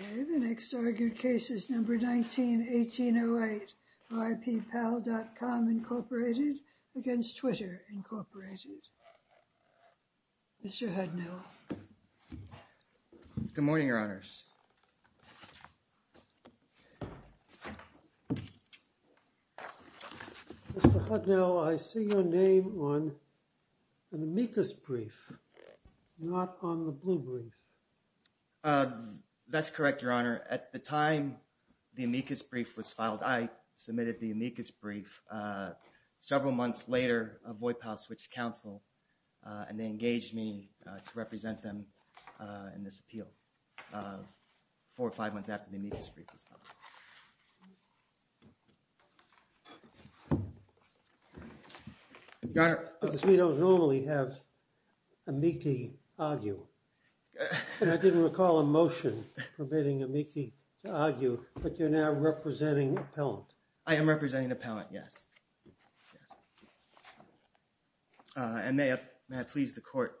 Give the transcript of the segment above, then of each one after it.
Okay, the next argued case is number 19-1808, Voip-Pal.com, Inc. v. Twitter, Inc. Mr. Hudnell. Good morning, Your Honors. Mr. Hudnell, I see your name on the amicus brief, not on the blue brief. That's correct, Your Honor. At the time the amicus brief was filed, I submitted the amicus brief several months later of Voip-Pal Switched Counsel, and they engaged me to represent them in this appeal four or five months after the amicus brief was filed. Because we don't normally have amici argue, and I didn't recall a motion permitting amici to argue, but you're now representing an appellant. I am representing an appellant, yes, and may I please the Court.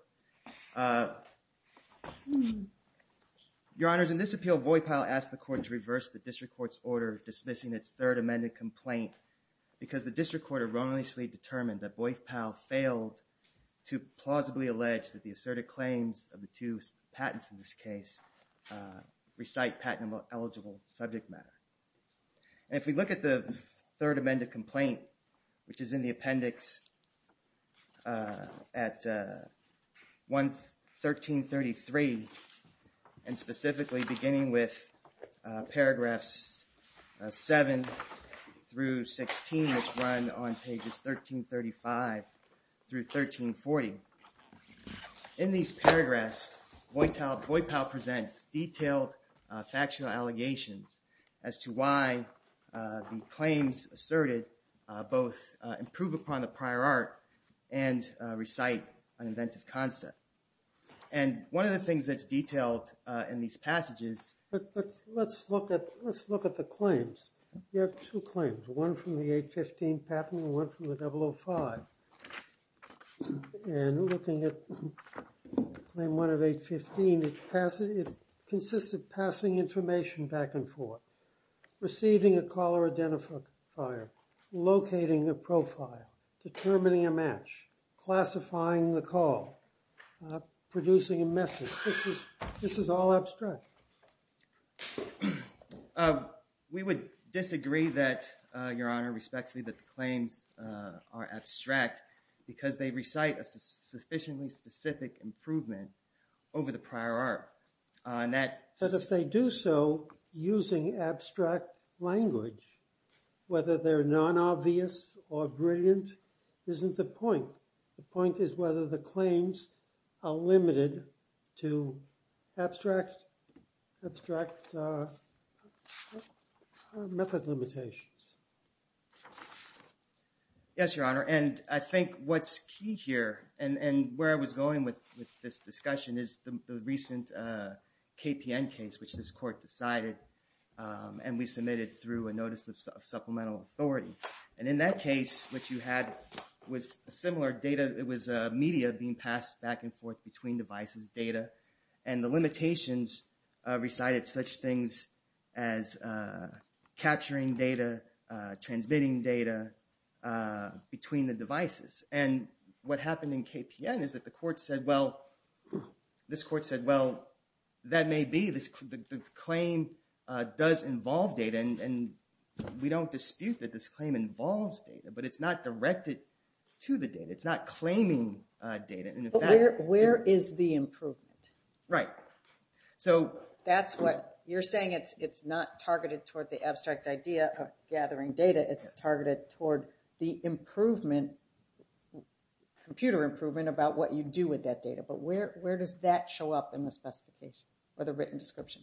Your Honors, in this appeal, Voip-Pal asked the Court to reverse the district court's order dismissing its third amended complaint because the district court erroneously determined that Voip-Pal failed to plausibly allege that the asserted claims of the two patents in this case recite patentable eligible subject matter. And if we look at the third amended complaint, which is in the appendix at 1333, and specifically beginning with paragraphs 7 through 16, which run on pages 1335 through 1340. In these paragraphs, Voip-Pal presents detailed factional allegations as to why the claims asserted both improve upon the prior art and recite an inventive concept. And one of the things that's detailed in these passages. Let's look at the claims. You have two claims, one from the 815 patent and one from the 005. And looking at Claim 1 of 815, it consists of passing information back and forth, receiving a caller identifier, locating a profile, determining a match, classifying the call, producing a message. This is all abstract. We would disagree that, Your Honor, respectfully, that the claims are abstract because they recite a sufficiently specific improvement over the prior art. And that says... But if they do so using abstract language, whether they're non-obvious or brilliant isn't the point. The point is whether the claims are limited to abstract method limitations. Yes, Your Honor. And I think what's key here, and where I was going with this discussion, is the recent KPN case, which this court decided and we submitted through a notice of supplemental authority. And in that case, what you had was similar data. It was media being passed back and forth between devices, data. And the limitations recited such things as capturing data, transmitting data between the devices. And what happened in KPN is that the court said, well... This court said, well, that may be, the claim does involve data and we don't dispute that this claim involves data, but it's not directed to the data. It's not claiming data. Where is the improvement? Right. So... That's what... You're saying it's not targeted toward the abstract idea of gathering data. It's targeted toward the improvement, computer improvement about what you do with that data. But where does that show up in the specification or the written description?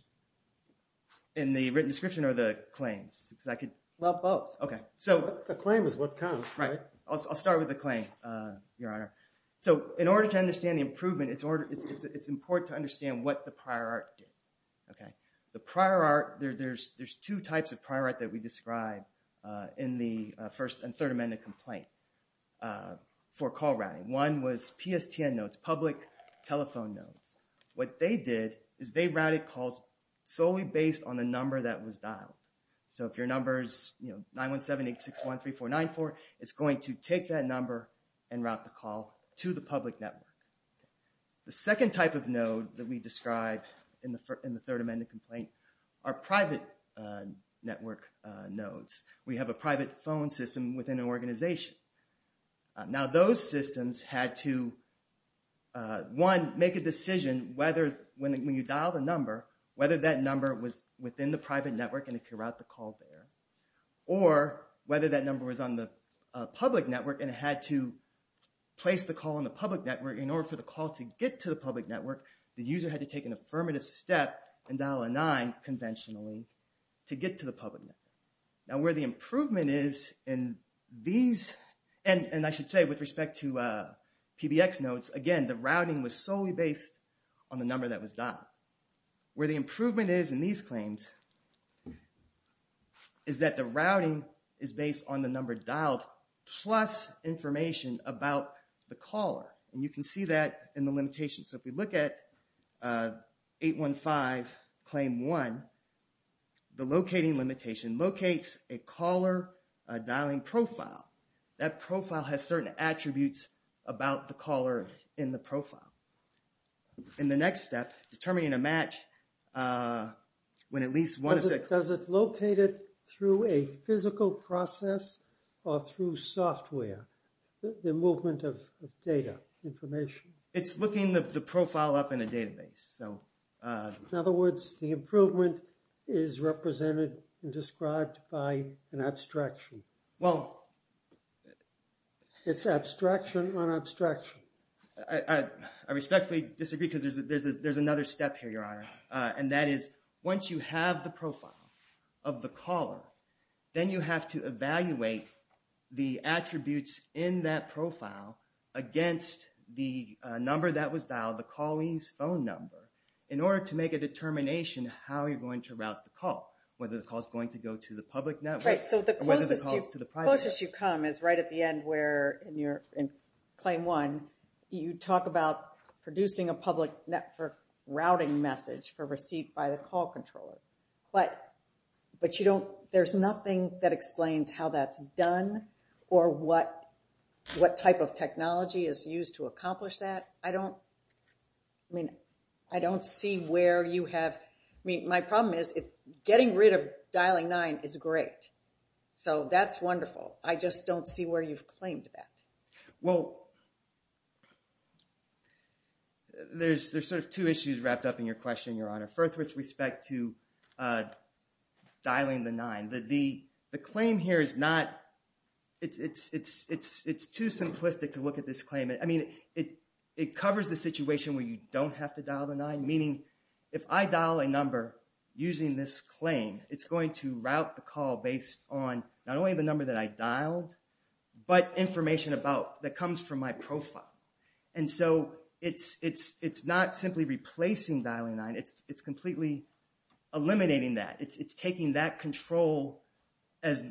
In the written description or the claims? Because I could... Well, both. Okay. So... The claim is what counts. Right. I'll start with the claim, Your Honor. So in order to understand the improvement, it's important to understand what the prior art did. Okay. The prior art, there's two types of prior art that we described in the First and Third Amendment complaint for call routing. One was PSTN notes, public telephone notes. What they did is they routed calls solely based on the number that was dialed. So if your number is 917-861-3494, it's going to take that number and route the call to the public network. Okay. The second type of node that we described in the Third Amendment complaint are private network nodes. We have a private phone system within an organization. Now those systems had to, one, make a decision whether when you dial the number, whether that number was within the private network and it could route the call there, or whether that number was on the public network and it had to place the call on the public network. In order for the call to get to the public network, the user had to take an affirmative step and dial a 9 conventionally to get to the public network. Now where the improvement is in these, and I should say with respect to PBX nodes, again, the routing was solely based on the number that was dialed. Where the improvement is in these claims is that the routing is based on the number dialed plus information about the caller, and you can see that in the limitation. So if we look at 815 Claim 1, the locating limitation locates a caller dialing profile. That profile has certain attributes about the caller in the profile. In the next step, determining a match, when at least one of the... Does it locate it through a physical process or through software? The movement of data, information? It's looking the profile up in a database. In other words, the improvement is represented and described by an abstraction. Well... It's abstraction on abstraction. I respectfully disagree because there's another step here, Your Honor. And that is, once you have the profile of the caller, then you have to evaluate the attributes in that profile against the number that was dialed, the callee's phone number, in order to make a determination how you're going to route the call, whether the call is going to go to the public network or whether the call is to the private network. The closest you come is right at the end where, in Claim 1, you talk about producing a public network routing message for receipt by the call controller. But you don't... There's nothing that explains how that's done or what type of technology is used to accomplish that. I don't... I mean, I don't see where you have... My problem is getting rid of dialing 9 is great. So that's wonderful. I just don't see where you've claimed that. Well... There's sort of two issues wrapped up in your question, Your Honor. First, with respect to dialing the 9. The claim here is not... It's too simplistic to look at this claim. I mean, it covers the situation where you don't have to dial the 9, meaning if I dial a number using this claim, it's going to route the call based on not only the number that I dialed, but information about... That comes from my profile. And so it's not simply replacing dialing 9. It's completely eliminating that. It's taking that control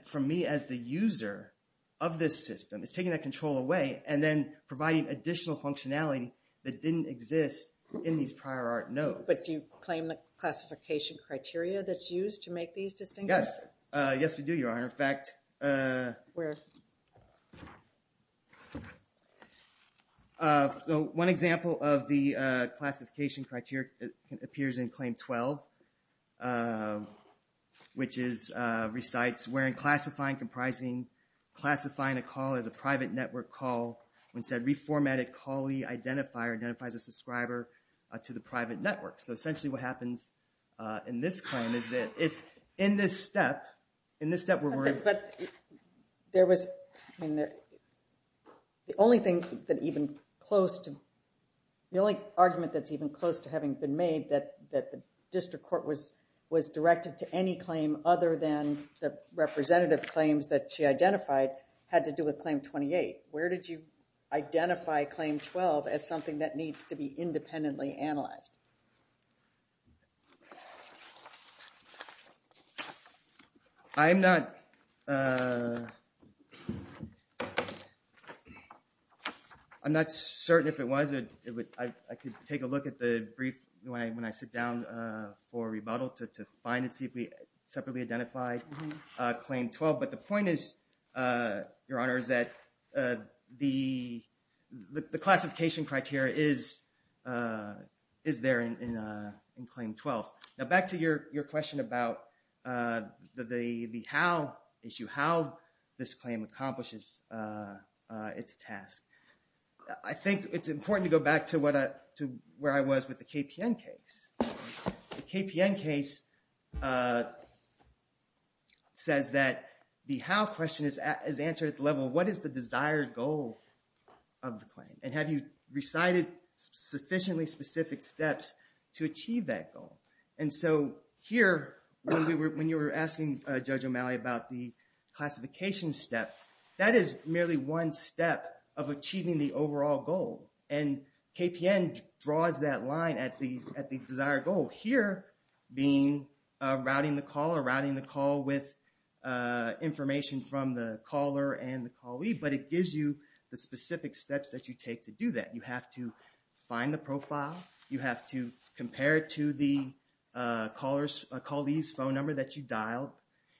from me as the user of this system. It's taking that control away and then providing additional functionality that didn't exist in these prior art notes. But do you claim the classification criteria that's used to make these distinctions? Yes. Yes, we do, Your Honor. In fact... Where? So one example of the classification criteria appears in Claim 12, which recites, where in classifying a call as a private network call, when said reformatted callee identifier identifies a subscriber to the private network. So essentially what happens in this claim is that in this step, in this step we're worried... But there was... The only thing that even close to... The only argument that's even close to having been made that the district court was directed to any claim other than the representative claims that she identified had to do with Claim 28. Where did you identify Claim 12 as something that needs to be independently analyzed? I'm not... I'm not certain if it was. I could take a look at the brief when I sit down for rebuttal to find it, see if we separately identified Claim 12. But the point is, Your Honor, is that the classification criteria is there in Claim 12. Now back to your question about the how issue, how this claim accomplishes its task. I think it's important to go back to where I was with the KPN case. The KPN case says that the how question is answered at the level, what is the desired goal of the claim? And have you recited sufficiently specific steps to achieve that goal? And so here, when you were asking Judge O'Malley about the classification step, that is merely one step of achieving the overall goal. And KPN draws that line at the desired goal. Here, being routing the caller, routing the call with information from the caller and the callee, but it gives you the specific steps that you take to do that. You have to find the profile. You have to compare it to the callee's phone number that you dialed.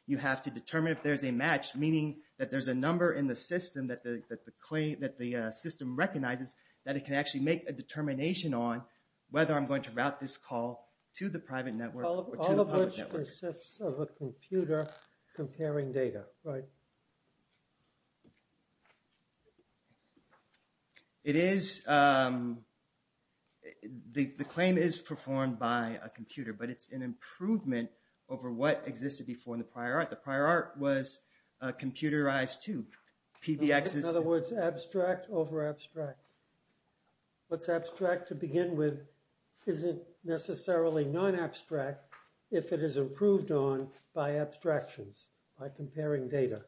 You have to determine if there's a match, meaning that there's a number in the system that the system recognizes, that it can actually make a determination on whether I'm going to route this call to the private network or to the public network. All of which consists of a computer comparing data, right? The claim is performed by a computer, but it's an improvement over what existed before in the prior art. The prior art was computerized too. PBX is... In other words, abstract over abstract. What's abstract to begin with isn't necessarily non-abstract if it is improved on by abstractions, by comparing data.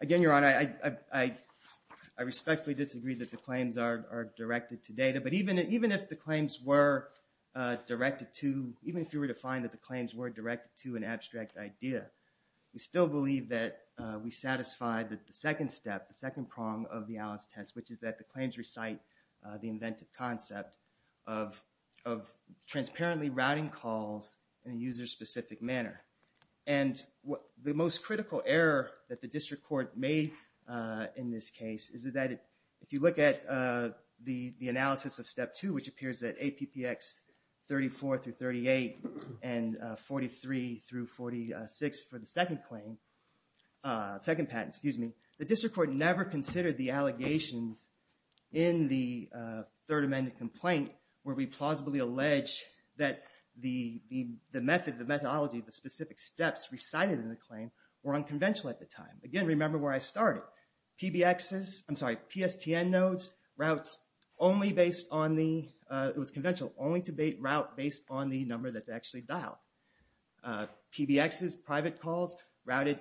Again, Your Honor, I respectfully disagree that the claims are directed to data, but even if the claims were directed to... We still believe that we satisfy the second step, the second prong of the Alice test, which is that the claims recite the inventive concept of transparently routing calls in a user-specific manner. And the most critical error that the district court made in this case is that if you look at the analysis of Step 2, which appears at APPX 34 through 38 and 43 through 46 for the second patent, the district court never considered the allegations in the Third Amendment complaint where we plausibly allege that the method, the methodology, the specific steps recited in the claim were unconventional at the time. Again, remember where I started. PBXs, I'm sorry, PSTN nodes, routes only based on the... It was conventional, only to route based on the number that's actually dialed. PBXs, private calls, routed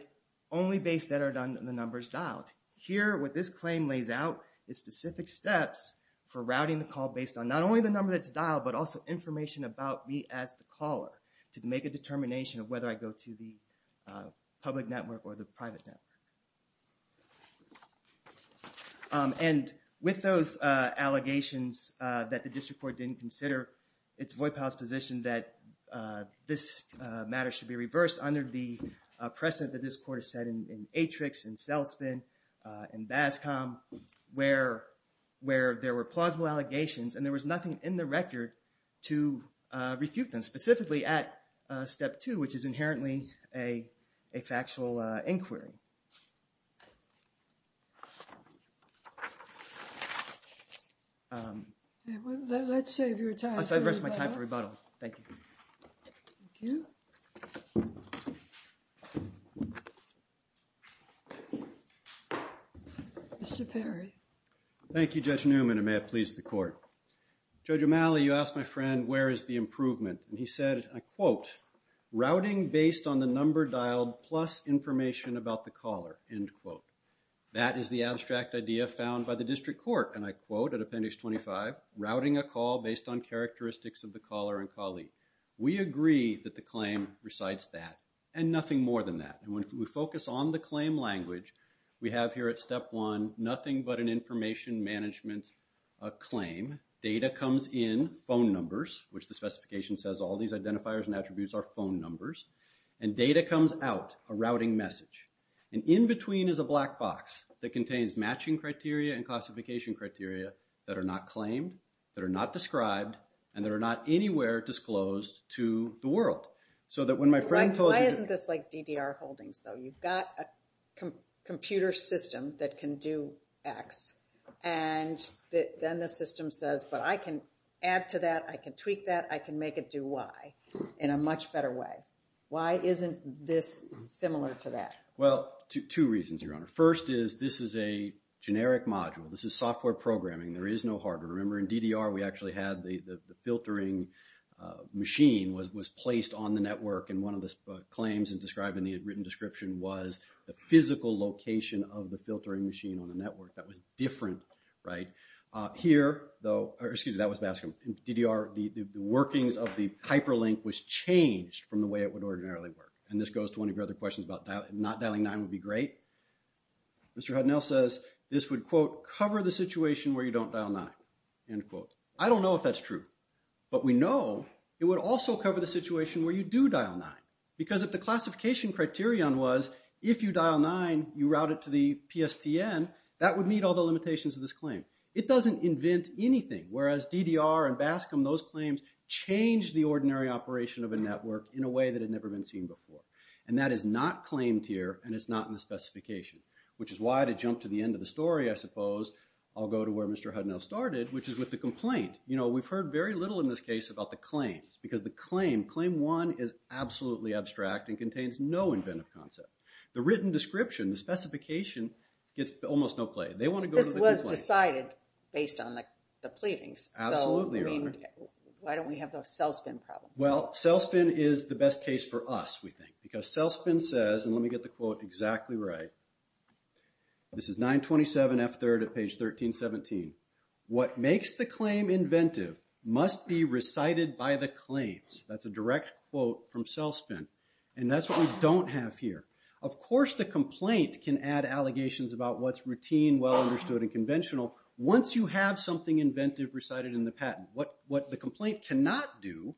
only based on the numbers dialed. Here, what this claim lays out is specific steps for routing the call based on not only the number that's dialed but also information about me as the caller to make a determination of whether I go to the public network or the private network. And with those allegations that the district court didn't consider, it's Voight-Powell's position that this matter should be reversed under the precedent that this court has set in ATRIX, in CELSPN, in BASCOM, where there were plausible allegations and there was nothing in the record to refute them, specifically at step two, which is inherently a factual inquiry. Let's save your time for rebuttal. I'll save the rest of my time for rebuttal. Thank you. Mr. Perry. Thank you, Judge Newman, and may it please the court. Judge O'Malley, you asked my friend, where is the improvement? And he said, and I quote, routing based on the number dialed plus information about the caller, end quote. That is the abstract idea found by the district court, and I quote at appendix 25, routing a call based on characteristics of the caller and colleague. We agree that the claim recites that and nothing more than that. And when we focus on the claim language, we have here at step one, nothing but an information management claim. Data comes in, phone numbers, which the specification says all these identifiers and attributes are phone numbers, and data comes out, a routing message. And in between is a black box that contains matching criteria and classification criteria that are not claimed, that are not described, and that are not anywhere disclosed to the world. So that when my friend told you... There's a computer system that can do X, and then the system says, but I can add to that, I can tweak that, I can make it do Y in a much better way. Why isn't this similar to that? Well, two reasons, Your Honor. First is, this is a generic module. This is software programming. There is no hardware. Remember in DDR, we actually had the filtering machine was placed on the network, and one of the claims described in the written description was the physical location of the filtering machine on the network. That was different, right? Here, though... Excuse me, that was Baskin. In DDR, the workings of the hyperlink was changed from the way it would ordinarily work. And this goes to one of your other questions about not dialing nine would be great. Mr. Hudnell says this would, quote, cover the situation where you don't dial nine, end quote. I don't know if that's true, but we know it would also cover the situation where you do dial nine. Because if the classification criterion was if you dial nine, you route it to the PSTN, that would meet all the limitations of this claim. It doesn't invent anything. Whereas DDR and Baskin, those claims change the ordinary operation of a network in a way that had never been seen before. And that is not claimed here, and it's not in the specification, which is why to jump to the end of the story, I suppose, I'll go to where Mr. Hudnell started, which is with the complaint. You know, we've heard very little in this case about the claims, because the claim, claim one is absolutely abstract and contains no inventive concept. The written description, the specification gets almost no play. They want to go to the complaint. This was decided based on the pleadings. Absolutely, Your Honor. So, I mean, why don't we have the cell spin problem? Well, cell spin is the best case for us, we think. Because cell spin says, and let me get the quote exactly right. This is 927F3rd at page 1317. What makes the claim inventive must be recited by the claims. That's a direct quote from cell spin. And that's what we don't have here. Of course the complaint can add allegations about what's routine, well understood and conventional, once you have something inventive recited in the patent. What the complaint cannot do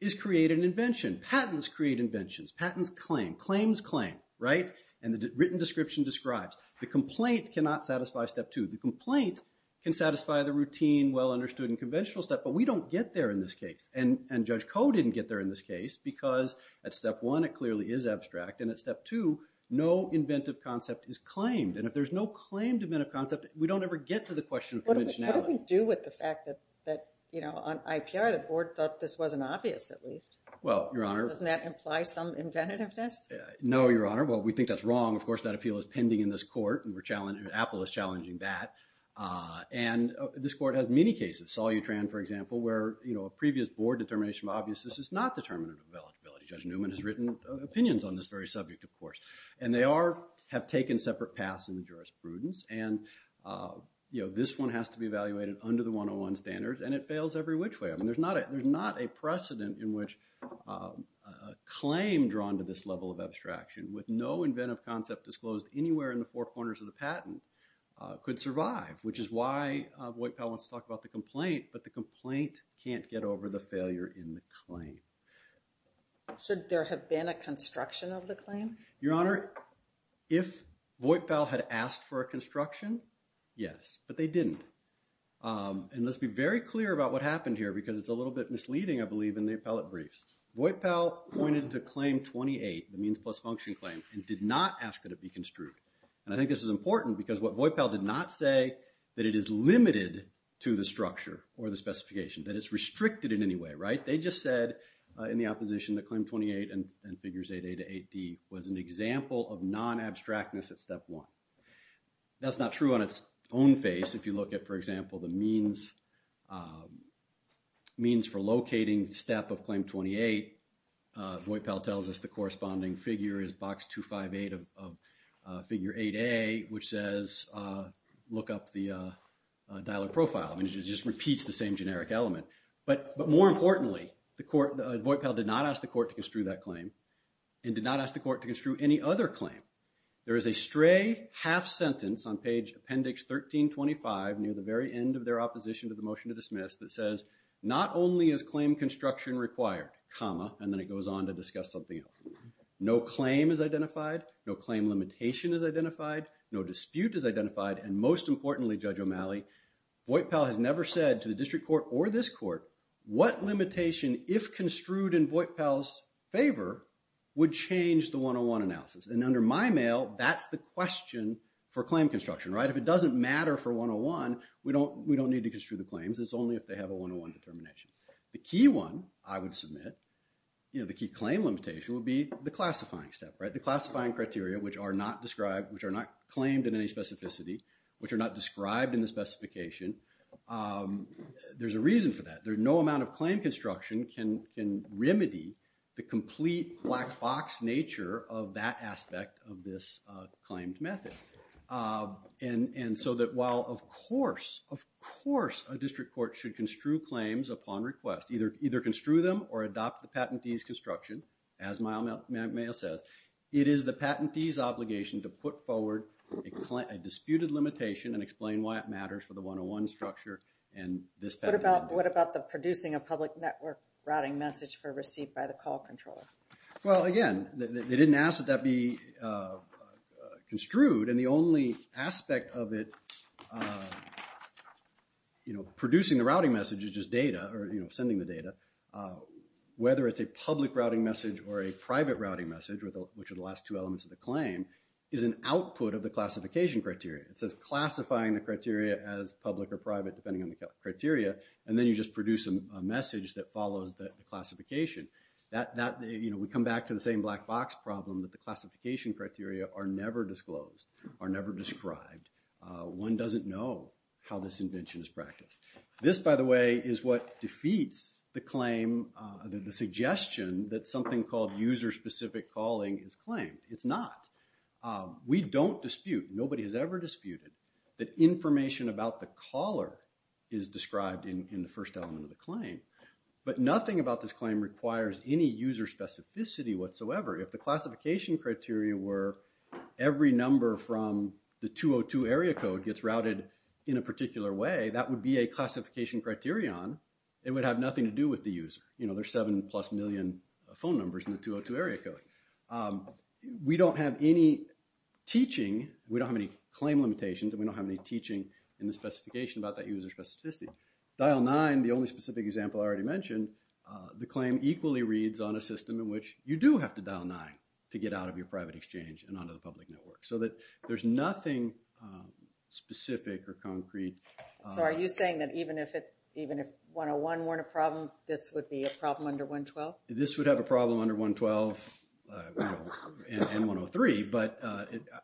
is create an invention. Patents create inventions. Patents claim. Claims claim, right? And the written description describes. The complaint cannot satisfy step two. The complaint can satisfy the routine, well understood and conventional step, but we don't get there in this case. And Judge Koh didn't get there in this case because at step one it clearly is abstract and at step two, no inventive concept is claimed. And if there's no claimed inventive concept we don't ever get to the question of conventionality. What do we do with the fact that on IPR the board thought this wasn't obvious at least? Well, Your Honor. Doesn't that imply some inventiveness? No, Your Honor. Well, we think that's wrong. Of course, that appeal is pending in this court and Apple is challenging that. And this court has many cases. Salyutran, for example, where a previous board determination of obviousness is not determinative of eligibility. Judge Newman has written opinions on this very subject, of course. And they are, have taken separate paths in the jurisprudence and this one has to be evaluated under the 101 standards and it fails every which way. I mean, there's not a precedent in which a claim drawn to this level of abstraction with no inventive concept disclosed anywhere in the four corners of the patent could survive, which is why Voight-Powell wants to talk about the complaint but the complaint can't get over the failure in the claim. Should there have been a construction of the claim? Your Honor, if Voight-Powell had asked for a construction, yes. But they didn't. And let's be very clear about what happened here because it's a little bit misleading, I believe, in the appellate briefs. Voight-Powell pointed to claim 28, the means plus function claim, and did not ask that it be construed. And I think this is important because what Voight-Powell did not say that it is limited to the structure or the specification, that it's restricted in any way, right? They just said in the opposition that claim 28 and figures 8A to 8D was an example of non-abstractness at step one. That's not true on its own face if you look at, for example, the means for locating step of claim 28. Voight-Powell tells us the corresponding figure is box 258 of figure 8A, which says look up the dialer profile. And it just repeats the same generic element. But more importantly, Voight-Powell did not ask the court to construe that claim and did not ask the court to construe any other claim. There is a stray half sentence on page appendix 1325 near the very end of their opposition to the motion to dismiss that says not only is claim construction required, and then it goes on to discuss something else. No claim is identified, no claim limitation is identified, no dispute is identified, and most importantly, Judge O'Malley, Voight-Powell has never said to the district court or this court what limitation, if construed in Voight-Powell's favor, would change the 101 analysis. And under my mail, that's the question for claim construction, right? If it doesn't matter for 101, we don't need to construe the claims. It's only if they have a 101 determination. The key one I would submit, you know, the key claim limitation would be the classifying step, right? The classifying criteria, which are not described, which are not claimed in any specificity, which are not described in the specification, there's a reason for that. There's no amount of claim construction can remedy the complete black box nature of that aspect of this claimed method. And so that while, of course, of course a district court should construe claims upon request, either construe them or adopt the patentee's construction, as my mail says, it is the patentee's obligation to put forward a disputed limitation and explain why it matters for the 101 structure and this patentee. What about the producing a public network routing message for receipt by the call controller? Well, again, they didn't ask that that be construed, and the only aspect of it, you know, producing the routing message is just data, or you know, sending the data. Whether it's a public routing message or a private routing message, which are the last two elements of the claim, is an output of the classification criteria. It says classifying the criteria as public or private depending on the criteria, and then you just produce a message that follows the classification. That, you know, we come back to the same black box problem that the classification criteria are never disclosed, are never described. One doesn't know how this invention is practiced. This, by the way, is what defeats the claim, the suggestion that something called user-specific calling is claimed. It's not. We don't dispute, nobody has ever disputed, that information about the caller is described in the first element of the claim, but nothing about this claim requires any user specificity whatsoever. If the classification criteria were every number from the 202 area code gets routed in a particular way, that would be a classification criterion. It would have nothing to do with the user. You know, there's seven plus million phone numbers in the 202 area code. We don't have any teaching, we don't have any claim limitations, and we don't have any teaching in the specification about that user specificity. Dial 9, the only specific example I already mentioned, the claim equally reads on a system in which you do have to dial 9 to get out of your private exchange and onto the public network. So that there's nothing specific or concrete. So are you saying that even if 101 weren't a problem, this would be a problem under 112? This would have a problem under 112 and 103, but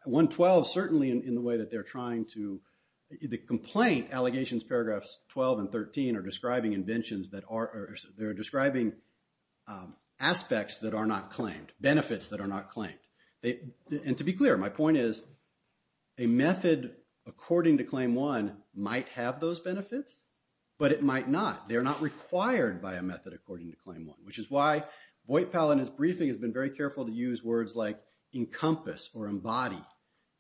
112 certainly in the way that they're trying to the complaint allegations paragraphs 12 and 13 are describing inventions that are they're describing aspects that are not claimed, benefits that are not claimed. And to be clear, my point is a method according to Claim 1 might have those benefits, but it might not. They're not required by a method according to Claim 1, which is why Voight-Powell in his briefing has been very careful to use words like encompass or embody.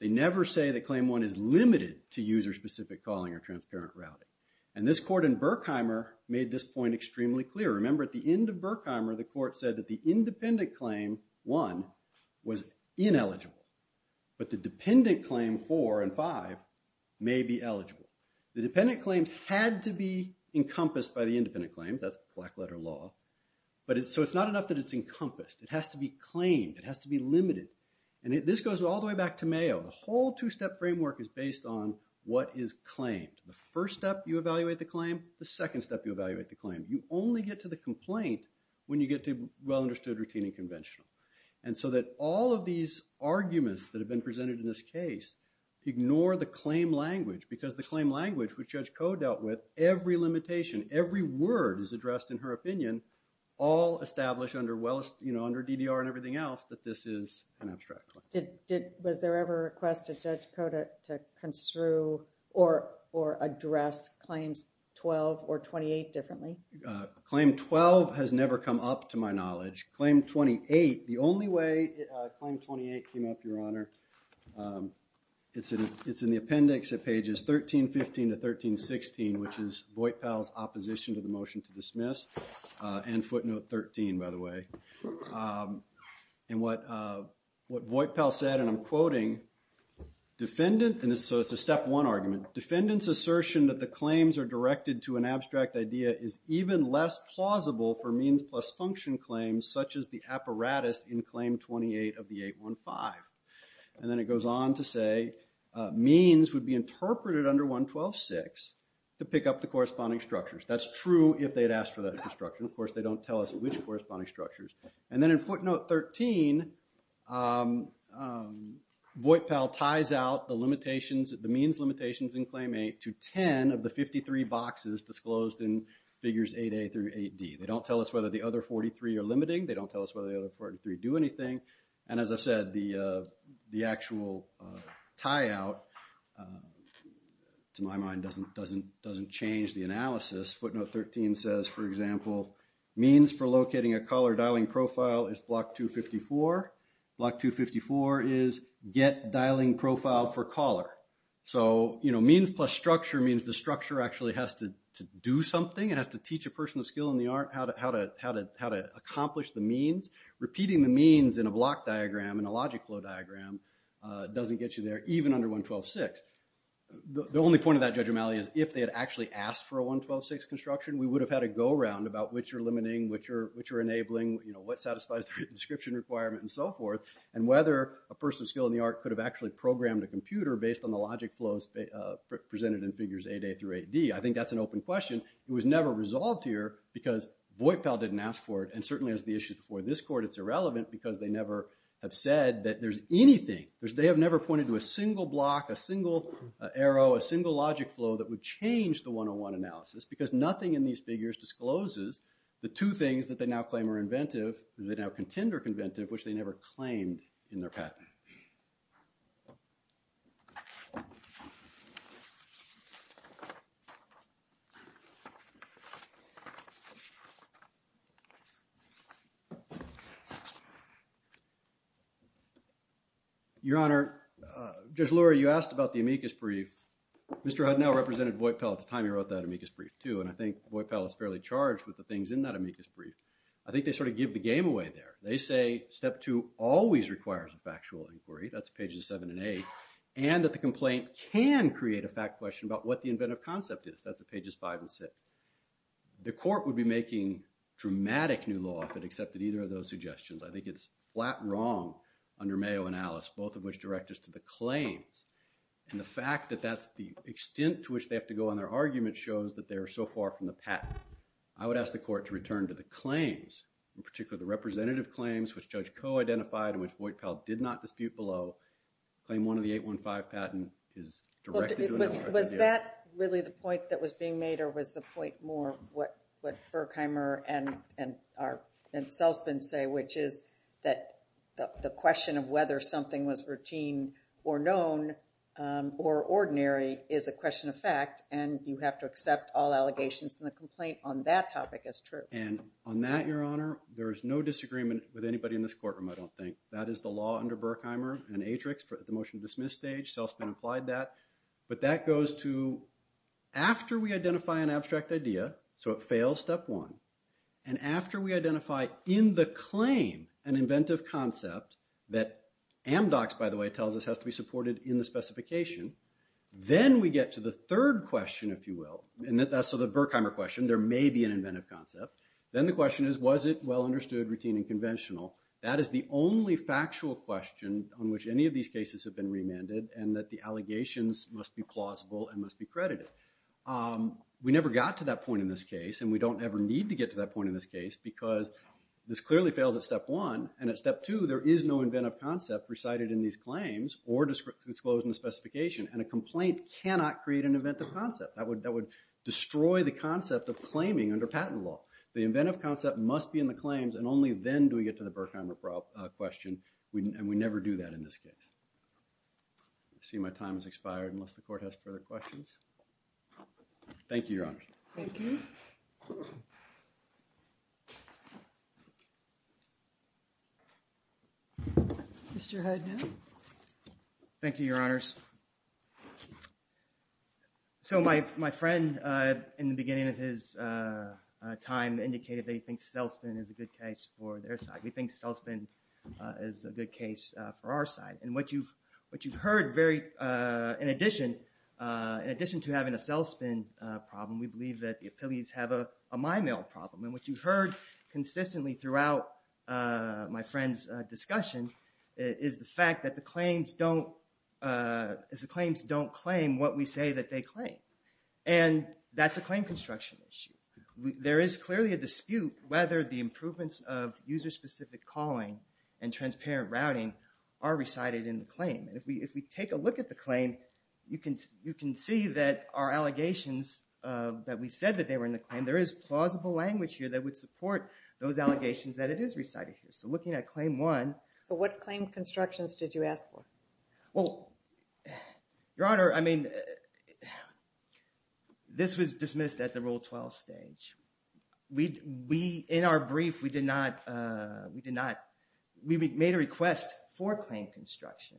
They never say that Claim 1 is limited to user-specific calling or transparent routing. And this court in Berkheimer made this point extremely clear. Remember at the end of Berkheimer the court said that the independent claim 1 was ineligible, but the dependent claim 4 and 5 may be eligible. The dependent claims had to be encompassed by the independent claim. That's black letter law. So it's not enough that it's encompassed. It has to be claimed. It has to be limited. And this goes all the way back to Mayo. The whole two-step framework is based on what is claimed. The first step you evaluate the claim. The second step you evaluate the claim. You only get to the complaint when you get to well-understood, routine, and conventional. And so that all of these arguments that have been presented in this case ignore the claim language because the claim language which Judge Koh dealt with, every limitation, every word is addressed in her opinion all established under DDR and everything else that this is an abstract claim. Was there ever a request of Judge Koh to construe or address claims 12 or 28 differently? Claim 12 has never come up to my knowledge. Claim 28, the only way Claim 28 came up, Your Honor, it's in the appendix of pages 1315 to 1316 which is Voight-Powell's opposition to the motion to dismiss and footnote 13 by the way. And what Voight-Powell said and I'm quoting defendant and so it's a step one argument defendant's assertion that the claims are directed to an abstract idea is even less plausible for means plus function claims such as the apparatus in Claim 28 of the 815. And then it goes on to say means would be interpreted under 112.6 to pick up the corresponding structures. That's true if they'd asked for that construction. Of course they don't tell us which corresponding structures. And then in footnote 13 Voight-Powell ties out the limitations the means limitations in Claim 8 to 10 of the 53 boxes disclosed in figures 8A through 8D. They don't tell us whether the other 43 are limiting. They don't tell us whether the other 43 do anything. And as I've said the actual tie out to my mind doesn't doesn't doesn't change the analysis. Footnote 13 says for example means for locating a caller dialing profile is block 254. Block 254 is get dialing profile for caller. So you know means plus structure means the structure actually has to do something. It has to teach a person of skill in the art how to accomplish the means. Repeating the means in a block diagram in a logic flow diagram doesn't get you there even under 112.6. The only point of that Judge O'Malley is if they had actually asked for a 112.6 construction we would have had a go around about which are limiting which are which are enabling you know what satisfies description requirement and so forth and whether a person of skill in the art could have actually programmed a computer based on the logic flows presented in figures 8A through 8D. I think that's an open question. It was never resolved here because VoIPAL didn't ask for it and certainly as the issue before this court it's irrelevant because they never have said that there's a factual inquiry. Your Honor Judge Lurie you asked about the amicus brief Mr. Hudnell represented VoIPAL at the time he wrote that amicus brief too and I think VoIPAL is fairly charged with the things in that amicus brief. I think they sort of give the game away there. They say step 2 always requires a factual inquiry that's pages 7 and 8 and that the complaint can create a fact question about what the inventive concept is that's pages 5 and 6. The court would be making dramatic new law if it accepted either of those suggestions. I think it's flat wrong under Mayo and Alice both of which direct us to the claims and the fact that that's the extent to which they have to go on their argument shows that they're so far from the patent. I would ask the court to return to the claims in particular the representative claims which Judge Coe identified which VoIPAL did not dispute below claim one of the 815 that the patent is directed Was that really the point that was being made or was the point more what Berkheimer and Selzman say which is that the question of whether something was routine or known or ordinary is a question of fact and you have to accept all allegations and the complaint on that topic is true. And on that Your Honor there is no disagreement with anybody in this courtroom I don't think. That is the law under Berkheimer and Atrix for the motion to dismiss stage Selzman applied that but that goes to after we identify an abstract idea so it fails step one and after we identify in the claim an inventive concept that Amdocs by the way tells us has to be supported in the specification then we get to the third question if you will and that's so the Berkheimer question there may be an inventive concept then the question is was it well understood routine and conventional that is the only factual question on which any of these cases have been remanded and that the allegations must be plausible and must be credited we never got to that point in this case and we don't ever need to get to that point in this case because this clearly doesn't answer the question and we never do that in this case I see my time has expired unless the court has further questions thank you your honor thank you Mr. Hudden thank you your honors so my friend in the beginning of his time indicated they think cell spin is a good case for their side we think cell spin is a good case for our side and what you've heard in addition to having a cell spin problem we believe that the appeals have a my mail problem and what you've heard consistently throughout my friend's discussion is the fact that the claims don't claim what we say that they claim and that's a claim construction issue there is clearly a dispute whether the improvements of user specific calling and transparent routing are recited in the court those allegations that it is recited so looking at claim one so what claim constructions did you ask for well your honor I mean this was dismissed at the rule 12 stage we in our brief we did not we did not we made a request for claim construction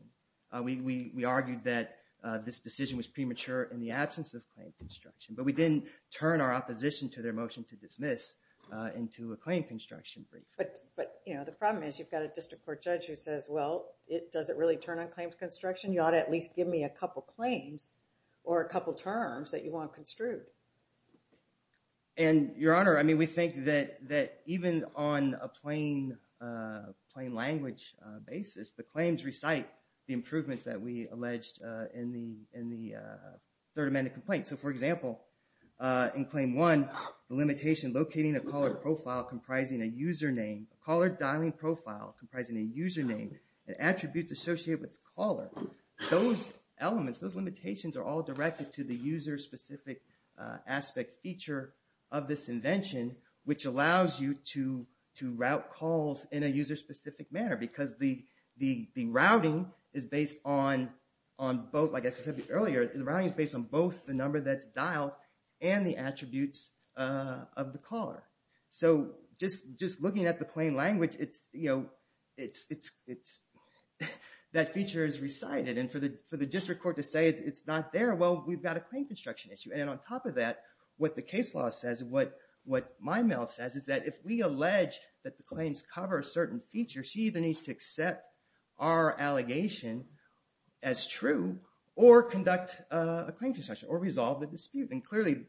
we argued that this decision was premature in the absence of claim construction but we didn't turn our opposition to their motion to dismiss into a claim construction brief but you know the problem is you've got a district court judge who says well it doesn't really turn on claims construction you ought to at least give me a couple claims or a couple terms that you want construed and your honor I mean we think that that even on a plain plain language basis the claims recite the improvements that we alleged in the third amended complaint so for example in claim one the limitation locating a caller profile comprising a user name and attributes associated with caller those elements those limitations are all directed to the user and the routing is based on on both like I said earlier the routing is based on both the number that's dialed and the attributes of the caller so just just looking at the plain language it's you know it's it's that feature is recited and for the for the district court to say it's not there well we've got a claim construction issue and on top of that what the case law says what my mail says is that if we allege that the claims cover a certain feature she either needs to accept our allegation as true or conduct a claim intercession or resolve the dispute and clearly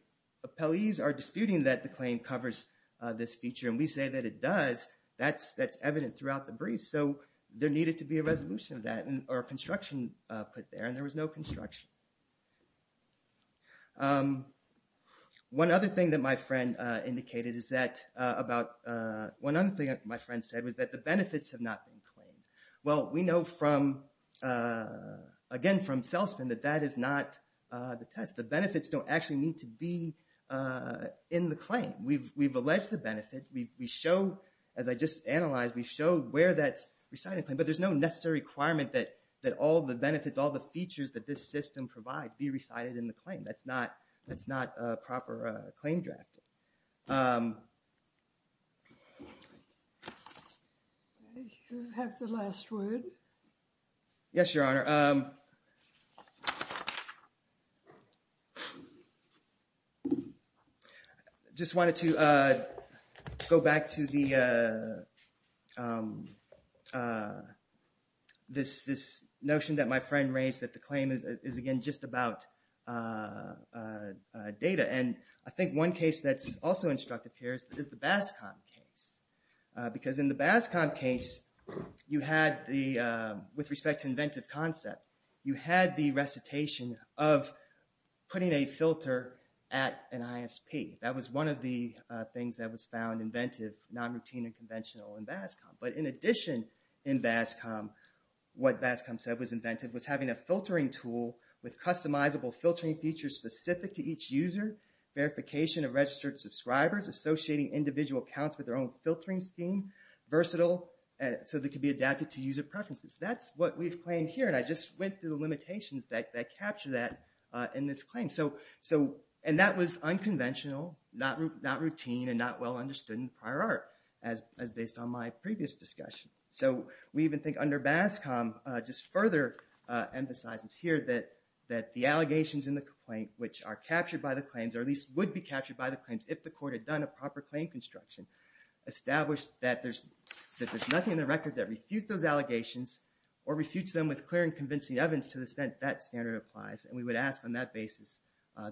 appellees are disputing that the claim covers this feature and we say that it does that's that's evident throughout the brief so there needed to be a resolution of that or a construction put there and there was no construction one other thing that my friend indicated is that about one other thing that my friend said was that the benefits have not been claimed well we know from again from salesman that that is not the test the benefits don't actually need to be in the claim we've we've alleged the benefit we've we show as I just analyzed we've showed where that recited but there's no necessary requirement that that all the benefits all the features that this system provides be recited in the claim that's not that's not a proper claim draft you have the last word yes your honor just wanted to go back to the this notion that my friend raised that the claim is again just about data and I think one case that's also instructive here is the BASCOM case because in the BASCOM case you had the with respect to inventive concept you had the recitation of putting a filter at an ISP that was one of the things that was found inventive non-routine and conventional in BASCOM but in addition in BASCOM what BASCOM said was inventive was having a filtering tool with customizable filtering features specific to each user verification of registered subscribers associating individual accounts with their own filtering scheme versatile so they can be adapted to user preferences that's what we've claimed here and I just went through the limitations that capture that in this claim so and that was unconventional not routine and not well understood in prior art as based on my previous discussion so we even think under BASCOM just further emphasizes here that the allegations in the complaint which are captured by the claims or at least would be captured by the claims if the court had done a proper claim construction established that there's nothing in the record that refutes those allegations or refutes them with clear and convincing evidence to the extent that standard applies and we would ask on that basis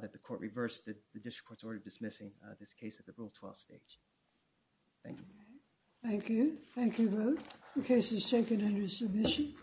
that the court reverse the district court's order of dismissing this case at the Rule 12 stage. Thank you. Thank you. Thank you both. The case is taken under submission.